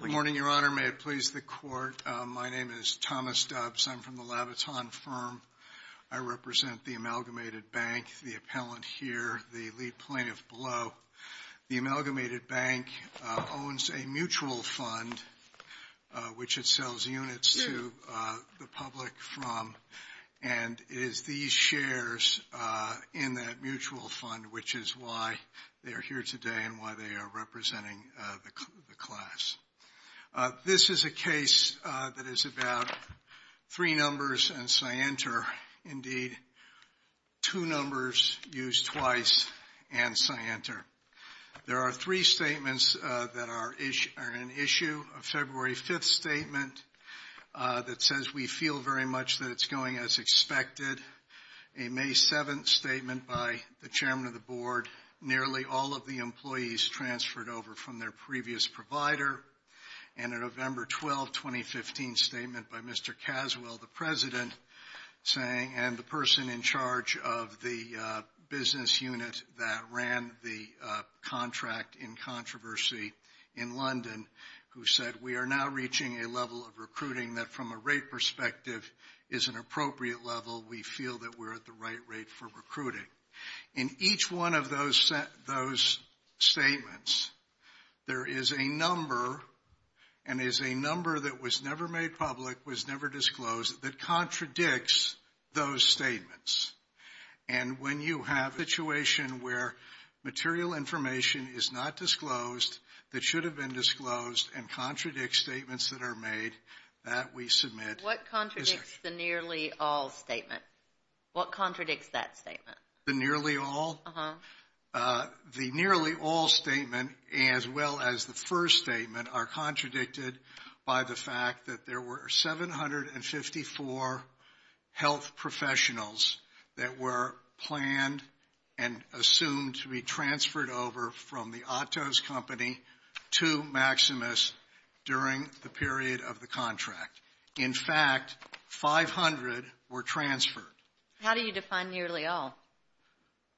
Good morning, Your Honor. May it please the Court, my name is Thomas Dubs. I'm from the Labaton firm. I represent the Amalgamated Bank, the appellant here, the lead plaintiff below. The Amalgamated Bank owns a mutual fund which it sells units to the public from and it is these shares in that mutual fund which is why they are here today and why they are representing the class. This is a case that is about three numbers and Scienter, indeed two numbers used twice and Scienter. There are three statements that are an issue of February 5th statement that says we feel very much that it's going as expected. A May 7th statement by the Chairman of the Board, nearly all of the employees transferred over from their previous provider and a November 12, 2015 statement by Mr. Caswell, the President saying and the person in charge of the business unit that ran the contract in controversy in London who said we are now reaching a level of recruiting that from a rate perspective is an appropriate level. We feel that we're at the right rate for recruiting. In each one of those statements, there is a number and it is a number that was never made public, was never disclosed that contradicts those statements and when you have a situation where material information is not disclosed that should have been disclosed and contradicts the statements that are made that we submit. What contradicts the nearly all statement? What contradicts that statement? The nearly all? The nearly all statement as well as the first statement are contradicted by the fact that there were 754 health professionals that were planned and assumed to be transferred over from the Otto's company to Maximus during the period of the contract. In fact, 500 were transferred. How do you define nearly all?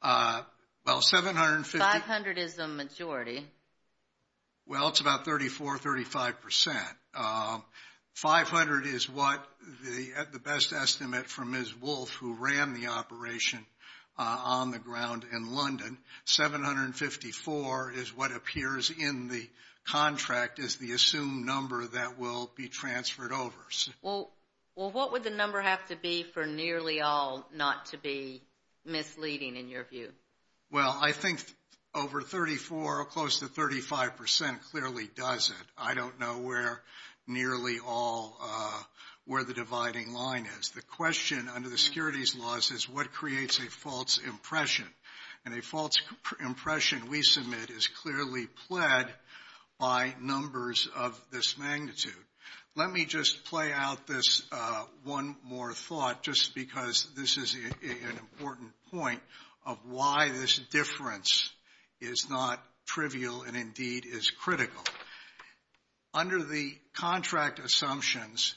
Well, 750. 500 is the majority. Well, it's about 34-35%. 500 is what the best estimate from Ms. Wolf who ran the operation on the ground in London. 754 is what appears in the assumed number that will be transferred over. Well, what would the number have to be for nearly all not to be misleading in your view? Well, I think over 34 or close to 35% clearly does it. I don't know where nearly all, where the dividing line is. The question under the securities laws is what creates a false impression and a false impression we submit is clearly pled by numbers of this magnitude. Let me just play out this one more thought just because this is an important point of why this difference is not trivial and indeed is critical. Under the contract assumptions,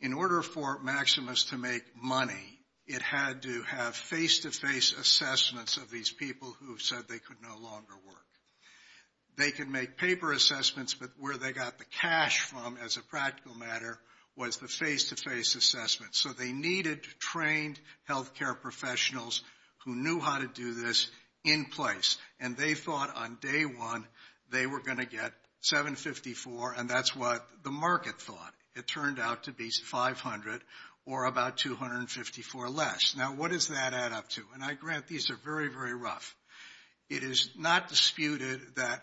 in order for Maximus to make money, it had to have face-to-face assessments of these people who said they could no longer work. They can make paper assessments, but where they got the cash from as a practical matter was the face-to-face assessments. So they needed trained healthcare professionals who knew how to do this in place. And they thought on day one they were going to get 754 and that's what the market thought. It turned out to be 500 or about 254 less. Now what does that add up to? And I grant these are very, very rough. It is not disputed that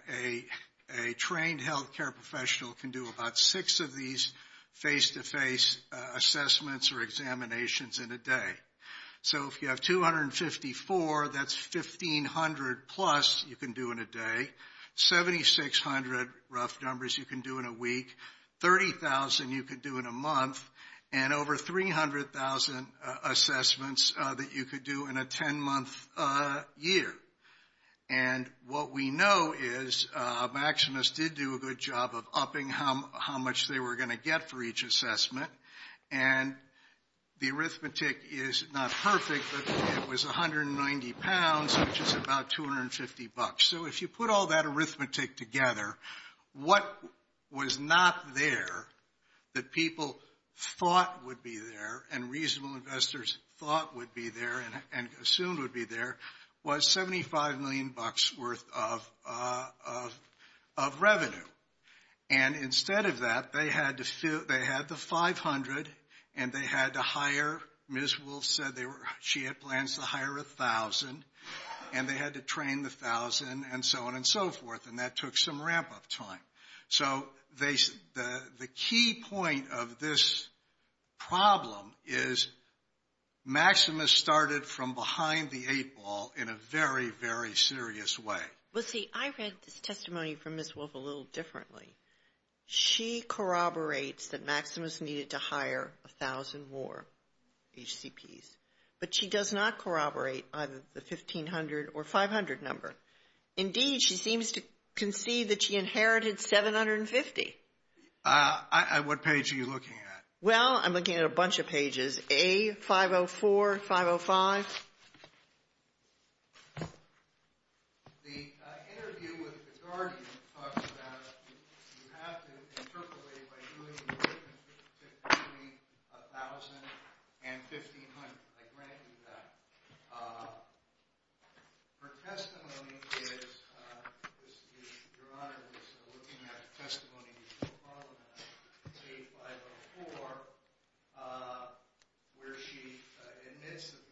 a trained healthcare professional can do about six of these face-to-face assessments or examinations in a day. So if you have 254, that's 1,500 plus you can do in a day. 7,600 rough numbers you can do in a week. 30,000 you can do in a month. And over 300,000 assessments that you could do in a 10-month year. And what we know is Maximus did do a good job of upping how much they were going to get for each assessment. And the arithmetic is not perfect, but it was 190 pounds, which is about 250 bucks. So if you put all that arithmetic together, what was not there that people thought would be there and reasonable investors thought would be there and assumed would be there was 75 million bucks worth of revenue. And instead of that, they had the 500 and they had to hire, Ms. Wolfe said she had plans to hire 1,000 and they had to train the 1,000 and so on and so forth. And that took some ramp up time. So the key point of this problem is Maximus started from behind the eight ball in a very, very serious way. Well, see, I read this testimony from Ms. Wolfe a little differently. She corroborates that Maximus needed to hire 1,000 more HCPs. But she does not corroborate either the 1,500 or 500 number. Indeed, she seems to concede that she inherited 750. What page are you looking at? Well, I'm looking at a bunch of pages, A, 504, 505. The interview with the Guardian talks about you have to interpolate by doing work to accumulate 1,000 and 1,500. I grant you that. Her testimony is, Your Honor, is looking at the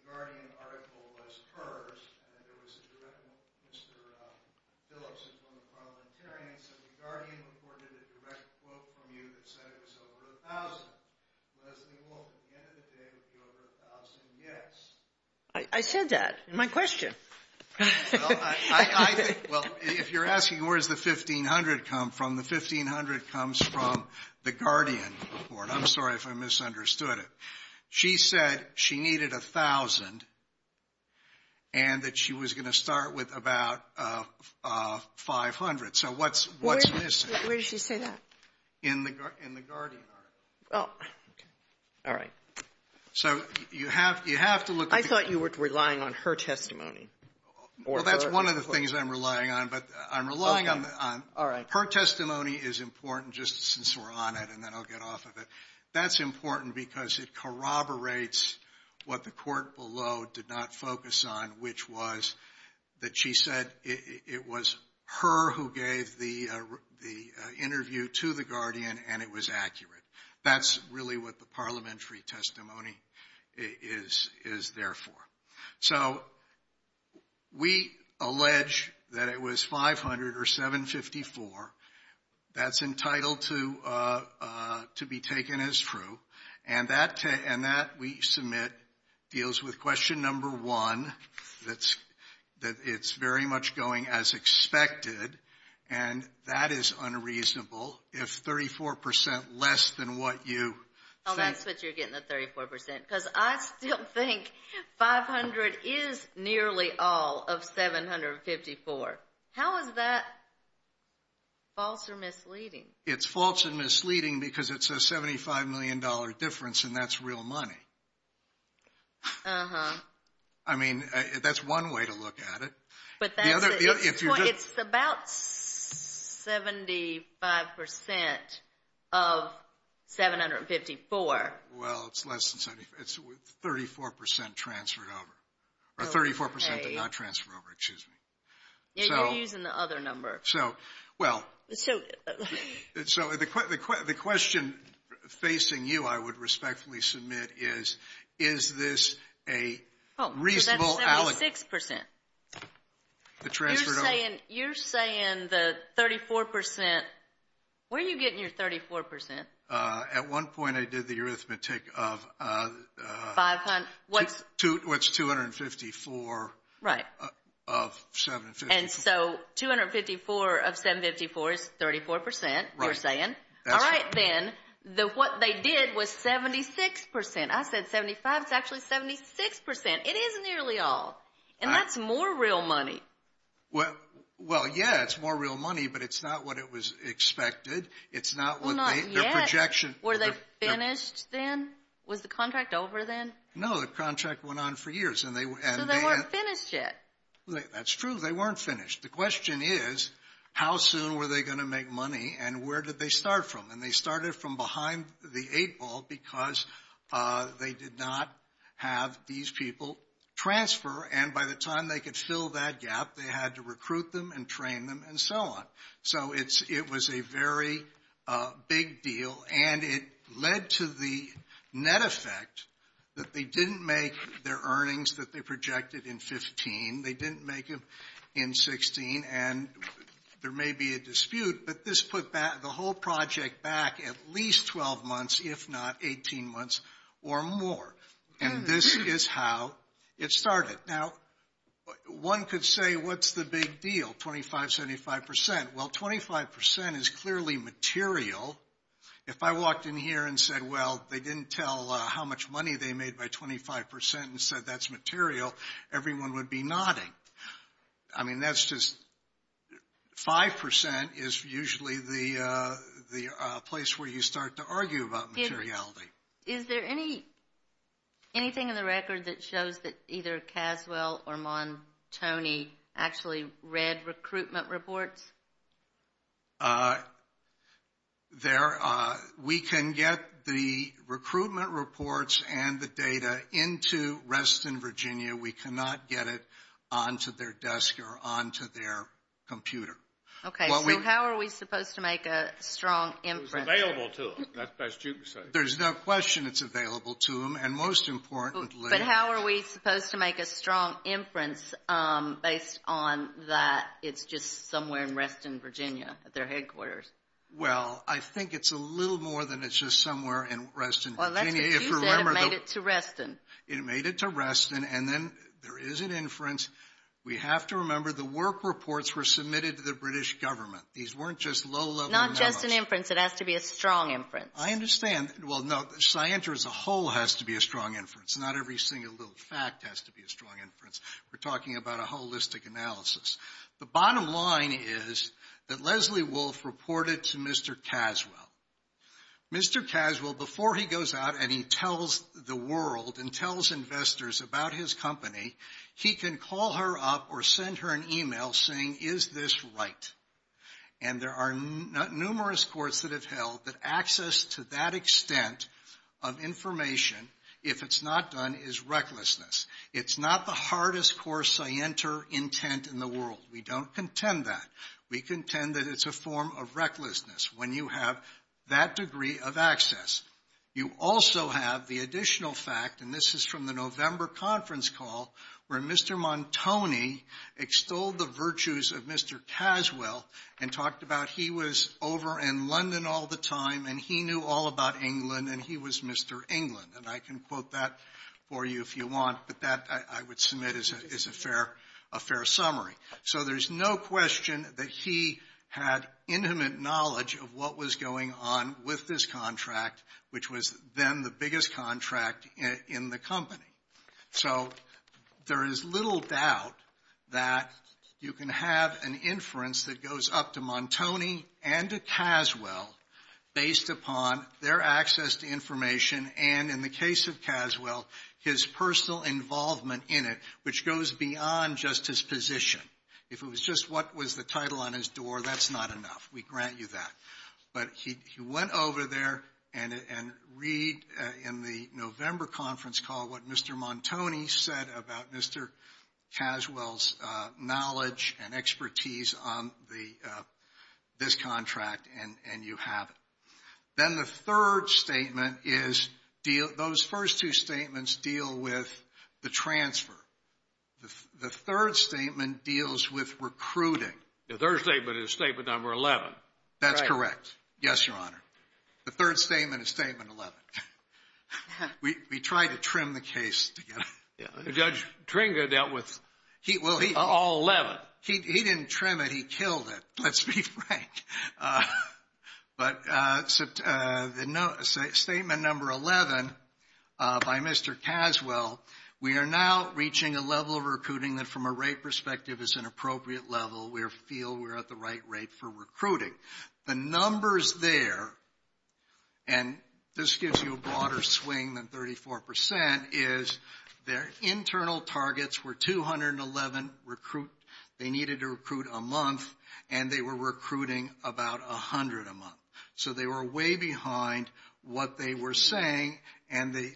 Guardian article as hers. Mr. Phillips is one of the parliamentarians of the Guardian reported a direct quote from you that said it was over 1,000. Leslie Wolfe, at the end of the day, would it be over 1,000? Yes. I said that in my question. Well, if you're asking where does the 1,500 come from, the 1,500 comes from the Guardian report. I'm sorry if I misunderstood it. She said she needed 1,000 and that she was going to start with about 500. So what's missing? Where did she say that? In the Guardian article. Oh, okay. All right. So you have to look at the... I thought you were relying on her testimony. Well, that's one of the things I'm relying on, but I'm relying on... Okay. All right. Her testimony is important, just since we're on it, and then I'll get off of it. That's important because it corroborates what the court below did not focus on, which was that she said it was her who gave the interview to the Guardian and it was accurate. That's really what the That's entitled to be taken as true. And that, we submit, deals with question number one, that it's very much going as expected, and that is unreasonable if 34% less than what you... Oh, that's what you're getting, the 34%, because I still think 500 is nearly all of 754. How is that false or misleading? It's false and misleading because it's a $75 million difference, and that's real money. Uh-huh. I mean, that's one way to look at it. But that's... The other... It's about 75% of 754. Well, it's less than 75. It's 34% transferred over. Oh, okay. Or 34% but not transferred over, excuse me. Yeah, you're using the other number. So, well... So... So the question facing you, I would respectfully submit, is, is this a reasonable... Oh, so that's 76%. The transferred over... You're saying the 34%, where are you getting your 34%? At one point I did the arithmetic of... 500, what's... What's 254... Right. ...of 754. And so 254 of 754 is 34%, you're saying. Right. All right, then, what they did was 76%. I said 75, it's actually 76%. It is nearly all, and that's more real money. Well, yeah, it's more real money, but it's not what it was expected. It's not what they... Well, not yet. Their projection... Were they finished then? Was the contract over then? No, the contract went on for years, and they... So they weren't finished yet. That's true, they weren't finished. The question is, how soon were they going to make money, and where did they start from? And they started from behind the eight ball because they did not have these people transfer, and by the time they could fill that gap, they had to recruit them and train them and so on. So it was a very big deal, and it led to the net effect that they didn't make their earnings that they projected in 15, they didn't make them in 16, and there may be a dispute, but this put the whole project back at least 12 months, if not 18 months or more. And this is how it started. Now, one could say, what's the big deal, 25%, 75%? Well, 25% is clearly material. If I walked in here and said, well, they didn't tell how much money they made by 25% and said that's material, everyone would be nodding. I mean, that's just... 5% is usually the place where you start to argue about materiality. Is there anything in the record that shows that either Caswell or Montoni actually read recruitment reports? We can get the recruitment reports and the data into Reston, Virginia. We cannot get it onto their desk or onto their computer. Okay, so how are we supposed to make a strong impact? It was available to them. There's no question it's available to them, and most importantly... But how are we supposed to make a strong inference based on that it's just somewhere in Reston, Virginia, at their headquarters? Well, I think it's a little more than it's just somewhere in Reston, Virginia. Well, that's because you said it made it to Reston. It made it to Reston, and then there is an inference. We have to remember the work reports were submitted to the British government. These weren't just low-level numbers. It's not just an inference. It has to be a strong inference. I understand. Well, no. Scienter as a whole has to be a strong inference. Not every single little fact has to be a strong inference. We're talking about a holistic analysis. The bottom line is that Leslie Wolf reported to Mr. Caswell. Mr. Caswell, before he goes out and he tells the world and tells investors about his company, he can call her up or send her an email saying, is this right? And there are numerous courts that have held that access to that extent of information, if it's not done, is recklessness. It's not the hardest course I enter intent in the world. We don't contend that. We contend that it's a form of recklessness when you have that degree of access. You also have the additional fact, and this is from the November conference call, where Mr. Montoni extolled the virtues of Mr. Caswell and talked about he was over in London all the time and he knew all about England and he was Mr. England. And I can quote that for you if you want, but that, I would submit, is a fair summary. So there's no question that he had intimate knowledge of what was going on with this contract, which was then the biggest contract in the company. So there is little doubt that you can have an inference that goes up to Montoni and to Caswell based upon their access to information and, in the case of Caswell, his personal involvement in it, which goes beyond just his position. If it was just what was the title on his door, that's not enough. We grant you that. But he went over there and read, in the November conference call, what Mr. Montoni said about Mr. Caswell's knowledge and expertise on this contract, and you have it. Then the third statement is, those first two statements deal with the transfer. The third statement deals with recruiting. The third statement is statement number 11. That's correct. Yes, Your Honor. The third statement is statement 11. We tried to trim the case together. Judge Tringa dealt with all 11. He didn't trim it. He killed it, let's be frank. But statement number 11 by Mr. Caswell, we are now reaching a level of recruiting that, from a rate perspective, is an appropriate level. We feel we're at the right rate for recruiting. The numbers there, and this gives you a broader swing than 34%, is their internal targets were 211 recruit. They needed to recruit a month, and they were recruiting about 100 a month. So they were way behind what they were saying, and they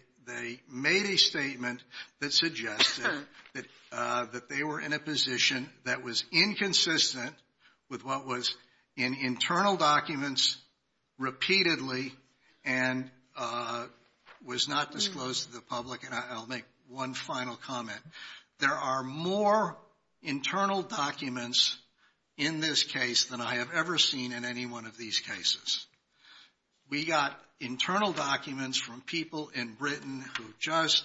made a statement that suggested that they were in a position that was inconsistent with what was in internal documents repeatedly and was not disclosed to the public. And I'll make one final comment. There are more internal documents in this case than I have ever seen in any one of these cases. We got internal documents from people in Britain who just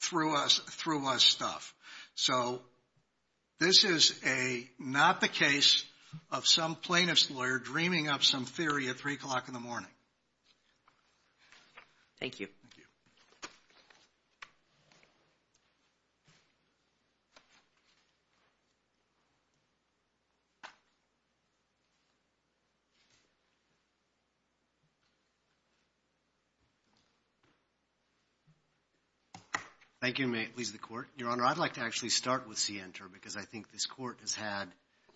threw us stuff. So this is not the case of some plaintiff's lawyer dreaming up some theory at 3 o'clock in the morning. Thank you. Thank you. Thank you. May it please the Court. Your Honor, I'd like to actually start with Sienter because I think this Court has had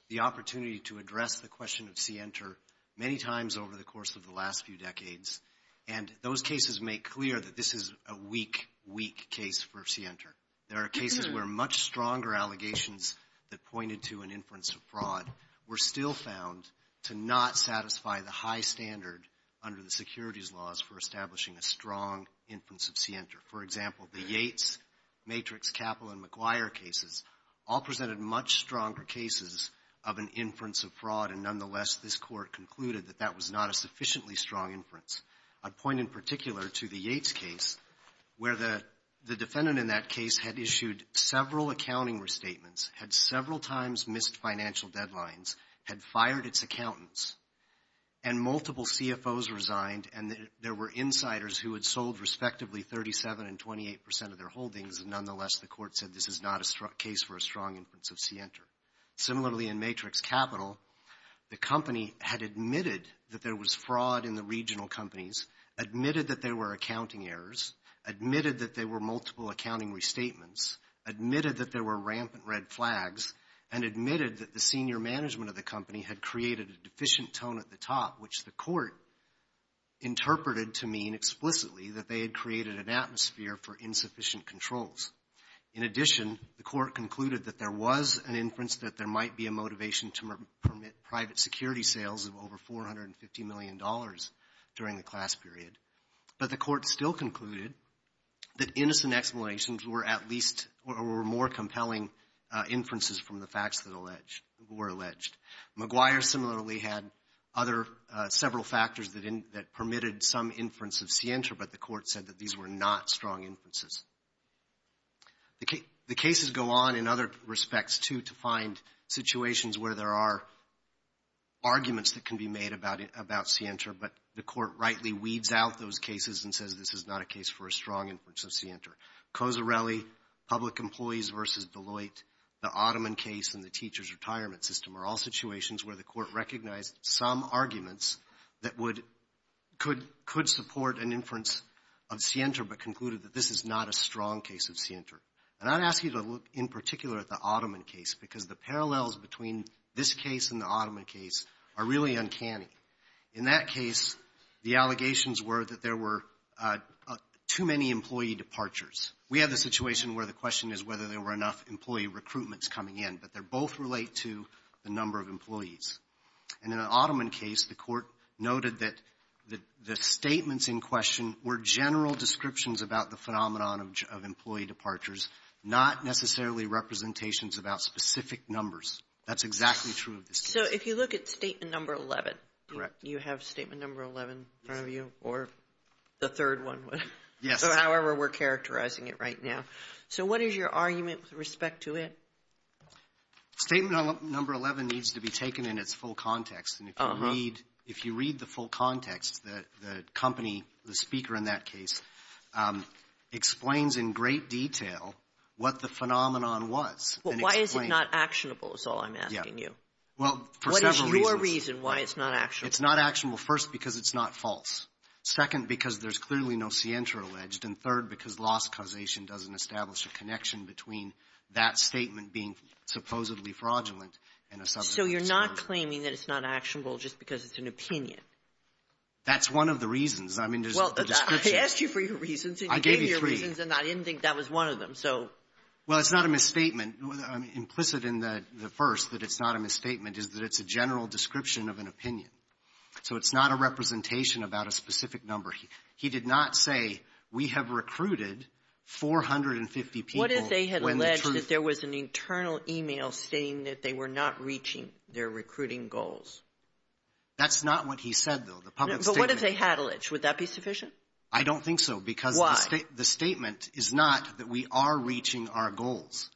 the opportunity to address the question of Sienter many times over the course of the last few decades. And those cases make clear that this is a weak, weak case for Sienter. There are cases where much stronger allegations that pointed to an inference of fraud were still found to not satisfy the high standard under the securities laws for establishing a strong inference of Sienter. For example, the Yates, Matrix, Capil, and McGuire cases all presented much stronger cases of an inference of fraud, and nonetheless, this Court concluded that that was not a sufficiently strong inference. I'd point in particular to the Yates case where the defendant in that case had issued several accounting restatements, had several times missed financial deadlines, had fired its accountants, and multiple CFOs resigned, and there were insiders who had sold respectively 37% and 28% of their holdings, and nonetheless, the Court said this is not a case for a strong inference of Sienter. Similarly, in Matrix Capital, the company had admitted that there was fraud in the regional companies, admitted that there were accounting errors, admitted that there were multiple accounting restatements, admitted that there were rampant red flags, and admitted that the senior management of the company had created a deficient tone at the top, which the Court interpreted to mean explicitly that they had created an atmosphere for insufficient controls. In addition, the Court concluded that there was an inference that there might be a motivation to permit private security sales of over $450 million during the class period, but the Court still concluded that innocent explanations were at least or were more compelling inferences from the facts that were alleged. McGuire similarly had other several factors that permitted some inference of Sienter, but the Court said that these were not strong inferences. The cases go on in other respects, too, to find situations where there are arguments that can be made about Sienter, but the Court rightly weeds out those cases and says this is not a case for a strong inference of Sienter. Cozzarelli, public employees versus Deloitte, the Ottoman case and the teacher's retirement system are all situations where the Court recognized some arguments that would — could support an inference of Sienter, but concluded that this is not a strong case of Sienter. And I'd ask you to look in particular at the Ottoman case, because the parallels between this case and the Ottoman case are really uncanny. In that case, the allegations were that there were too many employee departures. We have the situation where the question is whether there were enough employee recruitments coming in, but they both relate to the number of employees. And in the Ottoman case, the Court noted that the statements in question were general descriptions about the phenomenon of employee departures, not necessarily representations about specific numbers. That's exactly true of this case. So if you look at Statement Number 11, you have Statement Number 11 in front of you, or the third one. Yes. However, we're characterizing it right now. So what is your argument with respect to it? Statement Number 11 needs to be taken in its full context. And if you read the full context, the company, the speaker in that case, explains in great detail what the phenomenon was. Well, why is it not actionable is all I'm asking you. Well, for several reasons. What is your reason why it's not actionable? It's not actionable, first, because it's not false. Second, because there's clearly no scienter alleged. And third, because loss causation doesn't establish a connection between that statement being supposedly fraudulent and a subject of discussion. So you're not claiming that it's not actionable just because it's an opinion? That's one of the reasons. I mean, there's a description. I asked you for your reasons, and you gave me your reasons, and I didn't think that was one of them. Well, it's not a misstatement. Implicit in the first that it's not a misstatement is that it's a general description of an opinion. So it's not a representation about a specific number. He did not say, we have recruited 450 people when the truth — What if they had alleged that there was an internal email saying that they were not reaching their recruiting goals? That's not what he said, though, the public statement. But what if they had alleged? Would that be sufficient? I don't think so. Why? Because the statement is not that we are reaching our goals.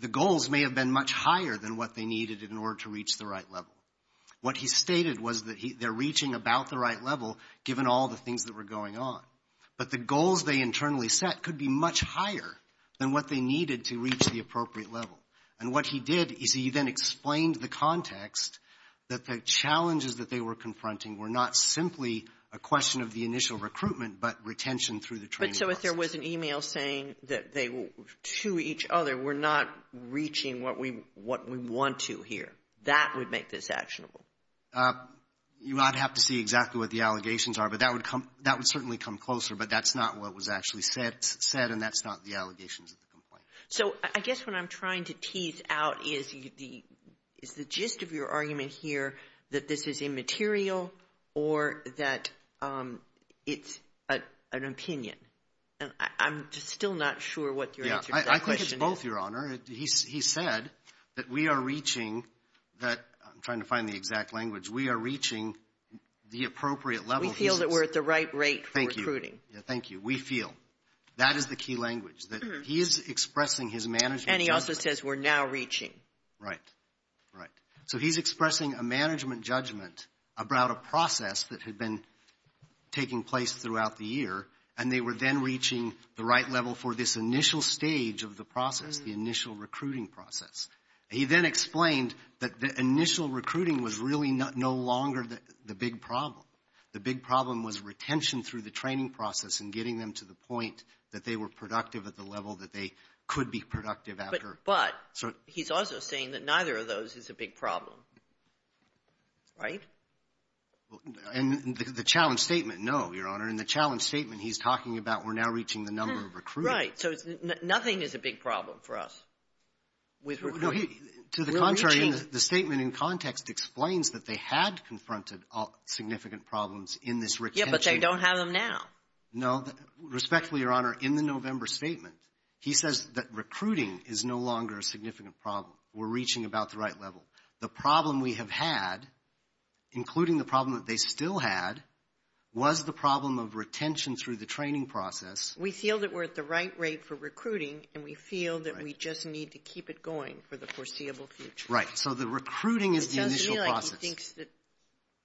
The goals may have been much higher than what they needed in order to reach the right level. What he stated was that they're reaching about the right level, given all the things that were going on. But the goals they internally set could be much higher than what they needed to reach the appropriate level. And what he did is he then explained the context that the challenges that they were confronting were not simply a question of the initial recruitment, but retention through the training process. But so if there was an email saying that they were to each other, we're not reaching what we want to here, that would make this actionable? You would have to see exactly what the allegations are. But that would come — that would certainly come closer. But that's not what was actually said. And that's not the allegations of the complaint. So I guess what I'm trying to tease out is the — is the gist of your argument here that this is immaterial or that it's an opinion? I'm still not sure what your answer to that question is. I think it's both, Your Honor. He said that we are reaching that — I'm trying to find the exact language. We are reaching the appropriate level. We feel that we're at the right rate for recruiting. Thank you. Thank you. We feel. That is the key language, that he is expressing his management. And he also says we're now reaching. Right. Right. So he's expressing a management judgment about a process that had been taking place throughout the year, and they were then reaching the right level for this initial stage of the process, the initial recruiting process. He then explained that the initial recruiting was really no longer the big problem. The big problem was retention through the training process and getting them to the point that they were productive at the level that they could be productive after. But he's also saying that neither of those is a big problem. Right? And the challenge statement, no, Your Honor. In the challenge statement, he's talking about we're now reaching the number of recruiting. Right. So nothing is a big problem for us with recruiting. To the contrary, the statement in context explains that they had confronted significant problems in this retention. Yeah, but they don't have them now. No. Respectfully, Your Honor, in the November statement, he says that recruiting is no longer a significant problem. We're reaching about the right level. The problem we have had, including the problem that they still had, was the problem of retention through the training process. We feel that we're at the right rate for recruiting, and we feel that we just need to keep it going for the foreseeable future. Right. So the recruiting is the initial process. It sounds to me like he thinks that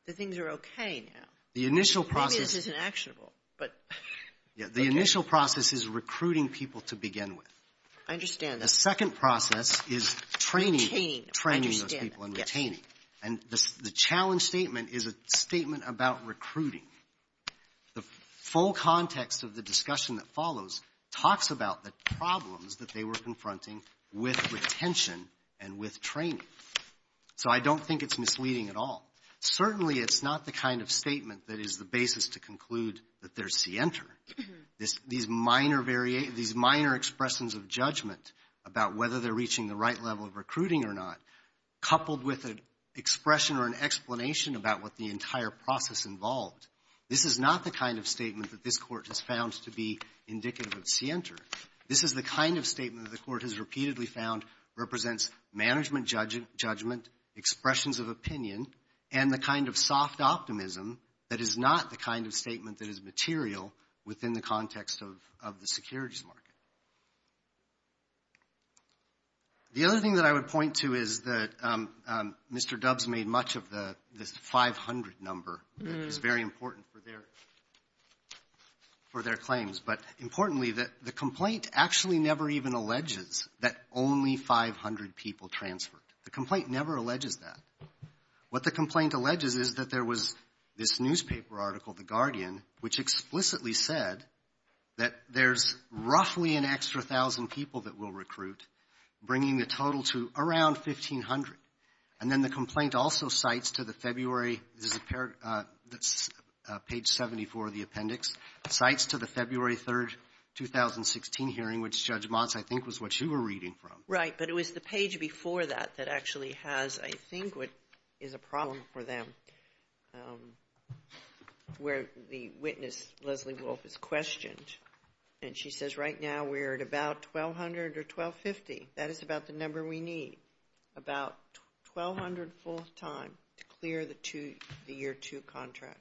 the things are okay now. The initial process — Maybe this isn't actionable, but — Yeah, the initial process is recruiting people to begin with. I understand that. The second process is training — Retaining. Training those people and retaining. Yes. And the challenge statement is a statement about recruiting. The full context of the discussion that follows talks about the problems that they were confronting with retention and with training. So I don't think it's misleading at all. Certainly, it's not the kind of statement that is the basis to conclude that there's scienter. These minor expressions of judgment about whether they're reaching the right level of recruiting or not, coupled with an expression or an explanation about what the entire process involved. This is not the kind of statement that this Court has found to be indicative of scienter. This is the kind of statement that the Court has repeatedly found represents management judgment, expressions of opinion, and the kind of soft optimism that is not the kind of statement that is material within the context of the securities market. The other thing that I would point to is that Mr. Dubbs made much of this 500 number. It's very important for their claims. But importantly, the complaint actually never even alleges that only 500 people transferred. The complaint never alleges that. What the complaint alleges is that there was this newspaper article, The Guardian, which explicitly said that there's roughly an extra 1,000 people that we'll recruit, bringing the total to around 1,500. And then the complaint also cites to the February – this is page 74 of the appendix – cites to the February 3, 2016 hearing, which Judge Motz, I think, was what you were reading from. Right. But it was the page before that that actually has, I think, what is a problem for them, where the witness, Leslie Wolf, is questioned. And she says, right now, we're at about 1,200 or 1,250. That is about the number we need, about 1,200 full-time to clear the year two contract.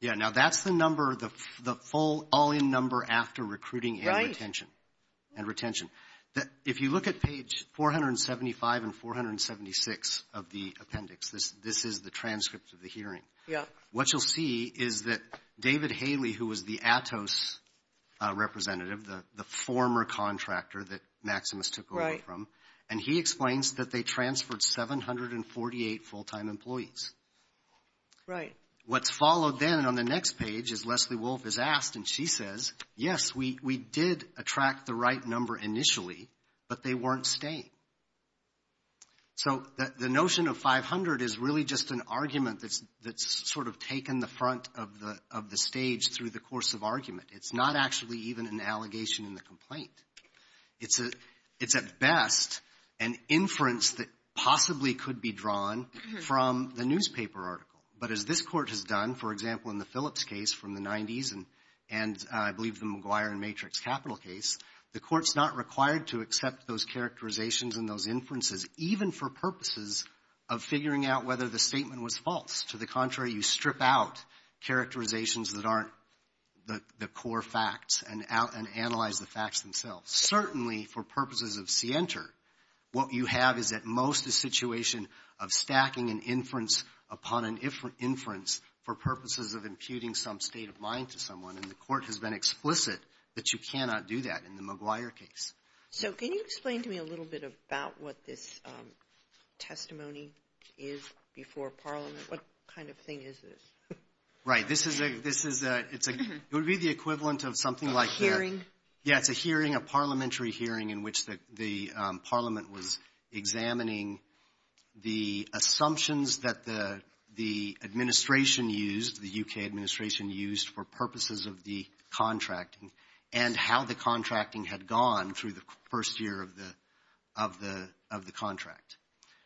Yeah. Now, that's the number, the full all-in number after recruiting and retention. Right. And retention. If you look at page 475 and 476 of the appendix, this is the transcript of the hearing. Yeah. What you'll see is that David Haley, who was the ATOS representative, the former contractor that Maximus took over from. Right. And he explains that they transferred 748 full-time employees. Right. What's followed then on the next page is Leslie Wolf is asked, and she says, yes, we did attract the right number initially, but they weren't staying. So the notion of 500 is really just an argument that's sort of taken the front of the stage through the course of argument. It's not actually even an allegation in the complaint. It's, at best, an inference that possibly could be drawn from the newspaper article. But as this Court has done, for example, in the Phillips case from the 90s, and I believe the McGuire and Matrix Capital case, the Court's not required to accept those characterizations and those inferences, even for purposes of figuring out whether the statement was false. To the contrary, you strip out characterizations that aren't the core facts and analyze the facts themselves. Certainly, for purposes of scienter, what you have is, at most, a situation of stacking an inference upon an inference for purposes of imputing some state line to someone, and the Court has been explicit that you cannot do that in the McGuire case. So can you explain to me a little bit about what this testimony is before Parliament? What kind of thing is this? Right. This is a, it's a, it would be the equivalent of something like that. A hearing? Yeah, it's a hearing, a Parliamentary hearing in which the Parliament was examining the assumptions that the Administration used, the U.K. Administration used for purposes of the contracting, and how the contracting had gone through the first year of the contract.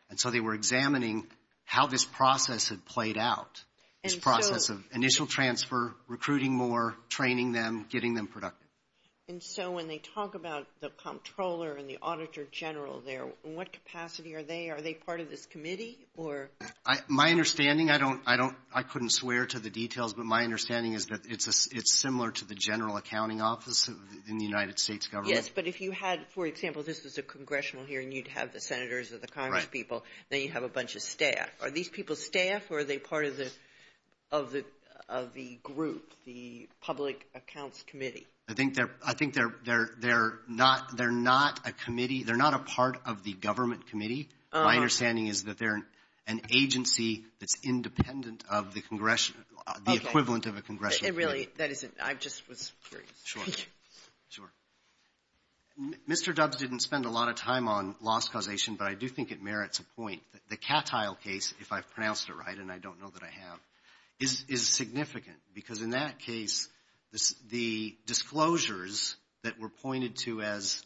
And so they were examining how this process had played out, this process of initial transfer, recruiting more, training them, getting them productive. And so when they talk about the Comptroller and the Auditor General there, in what capacity are they? Are they part of this committee, or? My understanding, I don't, I couldn't swear to the details, but my understanding is that it's similar to the General Accounting Office in the United States Government. Yes, but if you had, for example, this was a Congressional hearing, you'd have the Senators or the Congress people, then you'd have a bunch of staff. Are these people staff, or are they part of the group, the Public Accounts Committee? I think they're not a committee, they're not a part of the Government Committee. My understanding is that they're an agency that's independent of the Congressional, the equivalent of a Congressional committee. Really, that isn't, I just was curious. Sure. Sure. Mr. Dubs didn't spend a lot of time on loss causation, but I do think it merits a point. The Cattile case, if I've pronounced it right, and I don't know that I have, is significant, because in that case, the disclosures that were pointed to as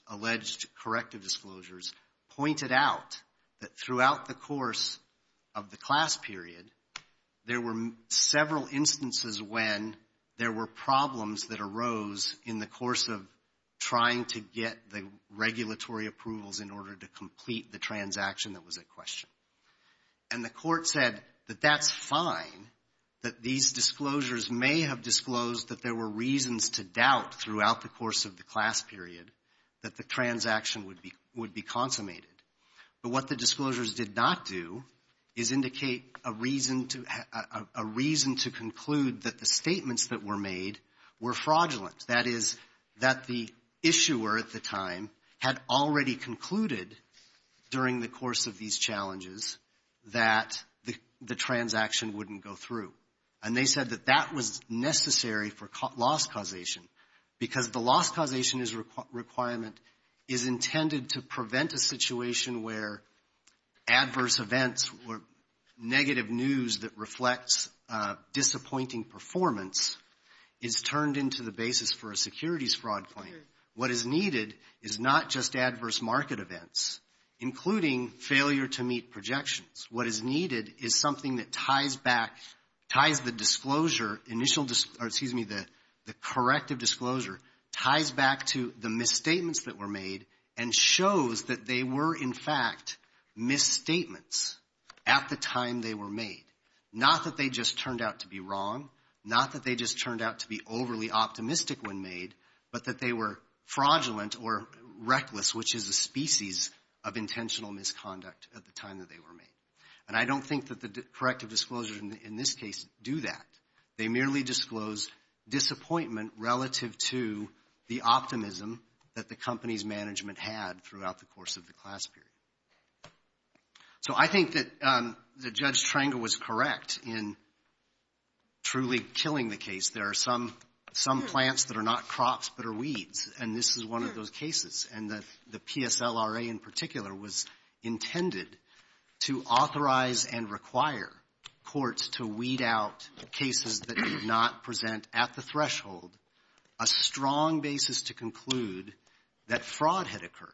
doubt, that throughout the course of the class period, there were several instances when there were problems that arose in the course of trying to get the regulatory approvals in order to complete the transaction that was at question. And the court said that that's fine, that these disclosures may have disclosed that there were reasons to doubt throughout the course of the class period that the transaction would be consummated. But what the disclosures did not do is indicate a reason to conclude that the statements that were made were fraudulent. That is, that the issuer at the time had already concluded during the course of these challenges that the transaction wouldn't go through. And they said that that was necessary for loss causation, because the loss causation is a situation where adverse events or negative news that reflects disappointing performance is turned into the basis for a securities fraud claim. What is needed is not just adverse market events, including failure to meet projections. What is needed is something that ties back, ties the disclosure, the corrective disclosure, and shows that they were, in fact, misstatements at the time they were made. Not that they just turned out to be wrong, not that they just turned out to be overly optimistic when made, but that they were fraudulent or reckless, which is a species of intentional misconduct at the time that they were made. And I don't think that the corrective disclosures in this case do that. They merely disclose disappointment relative to the optimism that the company's management had throughout the course of the class period. So I think that Judge Trengel was correct in truly killing the case. There are some plants that are not crops but are weeds, and this is one of those cases. And the PSLRA in particular was intended to authorize and require courts to weed out cases that did not present at the threshold a strong basis to conclude that fraud had occurred.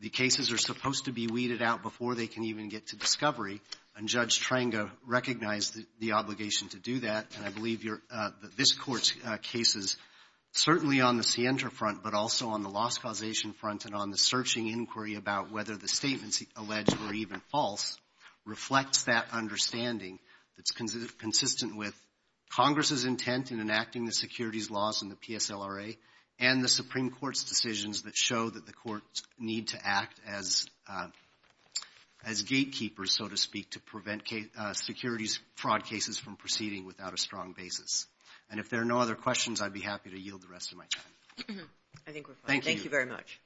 The cases are supposed to be weeded out before they can even get to discovery, and Judge Trengel recognized the obligation to do that. And I believe this Court's cases, certainly on the Sientra front, but also on the loss causation front and on the searching inquiry about whether the statements alleged were even false, reflects that understanding that's consistent with Congress's intent in enacting the securities laws in the PSLRA and the Supreme Court's decisions that show that the courts need to act as gatekeepers, so to speak, to prevent securities fraud cases from proceeding without a strong basis. And if there are no other questions, I'd be happy to yield the rest of my time. I think we're fine. Thank you very much.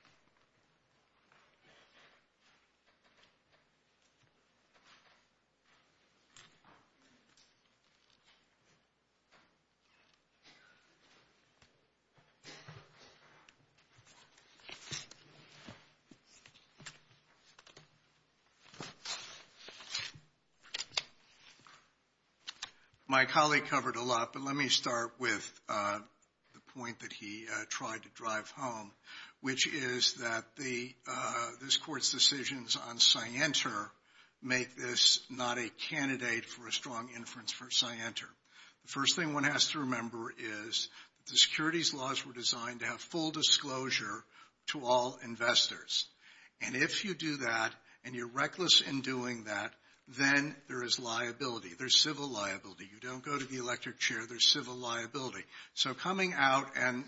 My colleague covered a lot, but let me start with the point that he tried to drive home, which is that this Court's decisions on Sientra make this not a candidate for a strong inference for Sientra. The first thing one has to remember is that the securities laws were designed to have full disclosure to all investors. And if you do that and you're reckless in doing that, then there is liability. There's civil liability. You don't go to the electric chair. There's civil liability. So coming out and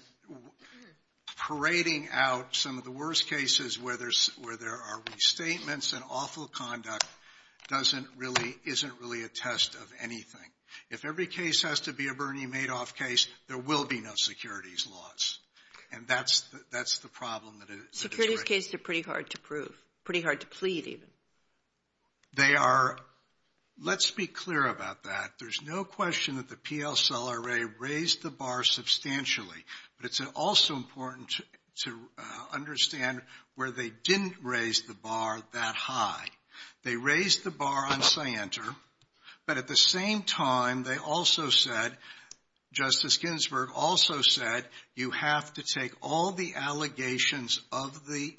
parading out some of the worst cases where there are restatements and awful conduct isn't really a test of anything. If every case has to be a Bernie Madoff case, there will be no securities laws. And that's the problem that it's raising. Securities cases are pretty hard to prove, pretty hard to plead, even. They are. Let's be clear about that. There's no question that the PL Cell Array raised the bar substantially, but it's also important to understand where they didn't raise the bar that high. They raised the bar on Sientra, but at the same time they also said, Justice Ginsburg also said, you have to take all the allegations of the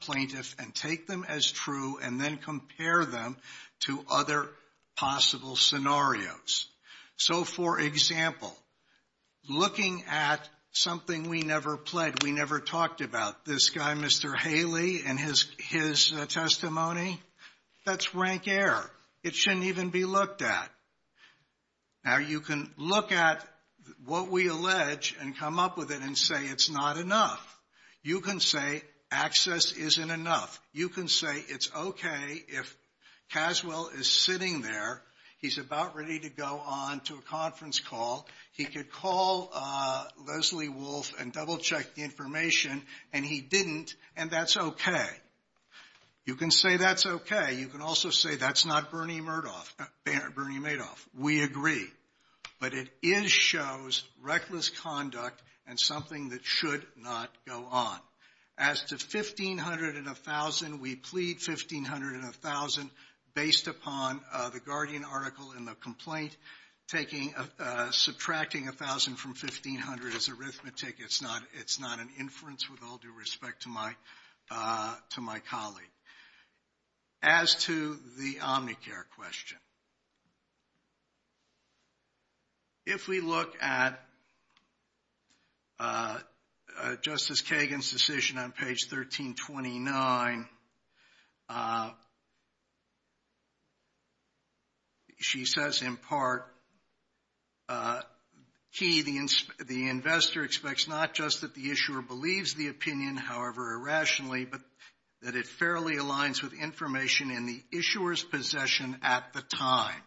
plaintiff and take them as true and then compare them to other possible scenarios. So, for example, looking at something we never pled, we never talked about, this guy, Mr. Haley, and his testimony, that's rank air. It shouldn't even be looked at. Now, you can look at what we allege and come up with it and say it's not enough. You can say access isn't enough. You can say it's okay if Caswell is sitting there. He's about ready to go on to a conference call. He could call Leslie Wolf and double-check the information, and he didn't, and that's okay. You can say that's okay. You can also say that's not Bernie Madoff. We agree. But it is shows reckless conduct and something that should not go on. As to 1,500 and 1,000, we plead 1,500 and 1,000 based upon the Guardian article in the complaint, subtracting 1,000 from 1,500 is arithmetic. It's not an inference with all due respect to my colleague. As to the Omnicare question, if we look at Justice Kagan's decision on page 1329, she says in part, Key, the investor expects not just that the issuer believes the opinion, however irrationally, but that it fairly aligns with information in the issuer's possession at the time.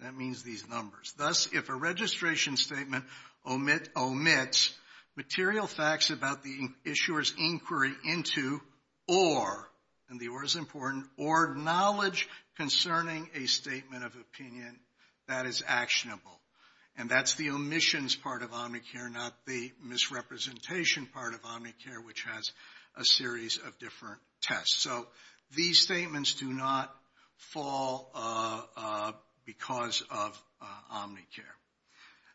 That means these numbers. Thus, if a registration statement omits material facts about the issuer's inquiry into, or, and the or is important, or knowledge concerning a statement of opinion that is actionable, and that's the omissions part of Omnicare, not the misrepresentation part of Omnicare, which has a series of different tests. So these statements do not fall because of Omnicare.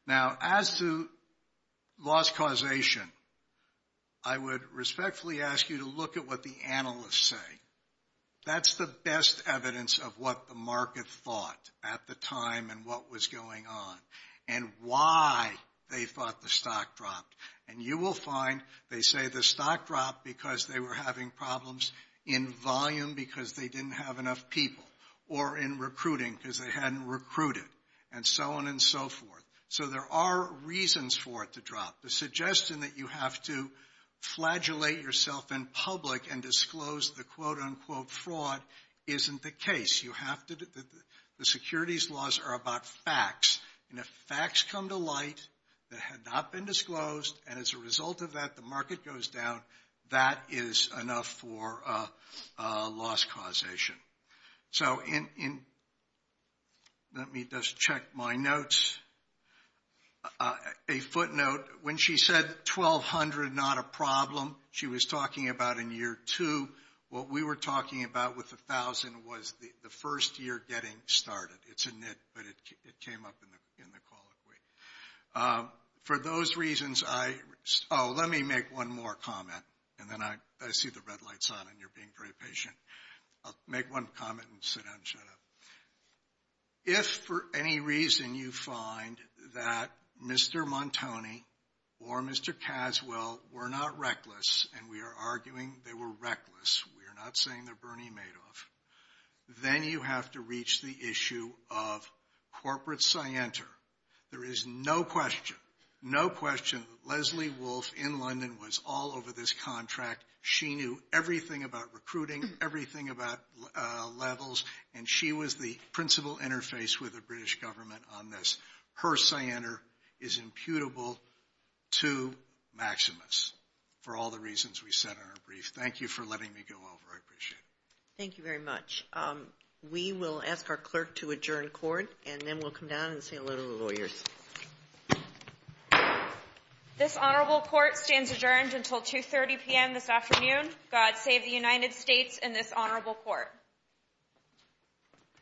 Now, as to loss causation, I would respectfully ask you to look at what the analysts say. That's the best evidence of what the market thought at the time and what was going on and why they thought the stock dropped. And you will find they say the stock dropped because they were having problems in volume because they didn't have enough people or in recruiting because they hadn't recruited and so on and so forth. So there are reasons for it to drop. The suggestion that you have to flagellate yourself in public and disclose the quote-unquote fraud isn't the case. You have to, the securities laws are about facts. And if facts come to light that had not been disclosed and as a result of that the market goes down, that is enough for loss causation. So let me just check my notes. A footnote, when she said 1,200 not a problem, she was talking about in year two. What we were talking about with 1,000 was the first year getting started. It's a nit, but it came up in the call. For those reasons, I, oh, let me make one more comment. And then I see the red light's on and you're being very patient. I'll make one comment and sit down and shut up. If for any reason you find that Mr. Montoni or Mr. Caswell were not reckless, and we are arguing they were reckless, we are not saying they're Bernie Madoff, then you have to reach the issue of corporate scienter. There is no question, no question that Leslie Wolfe in London was all over this contract. She knew everything about recruiting, everything about levels, and she was the principal interface with the British government on this. Her scienter is imputable to Maximus for all the reasons we said in our brief. Thank you for letting me go over. I appreciate it. Thank you very much. We will ask our clerk to adjourn court, and then we'll come down and say hello to the lawyers. This honorable court stands adjourned until 2.30 p.m. this afternoon. God save the United States and this honorable court.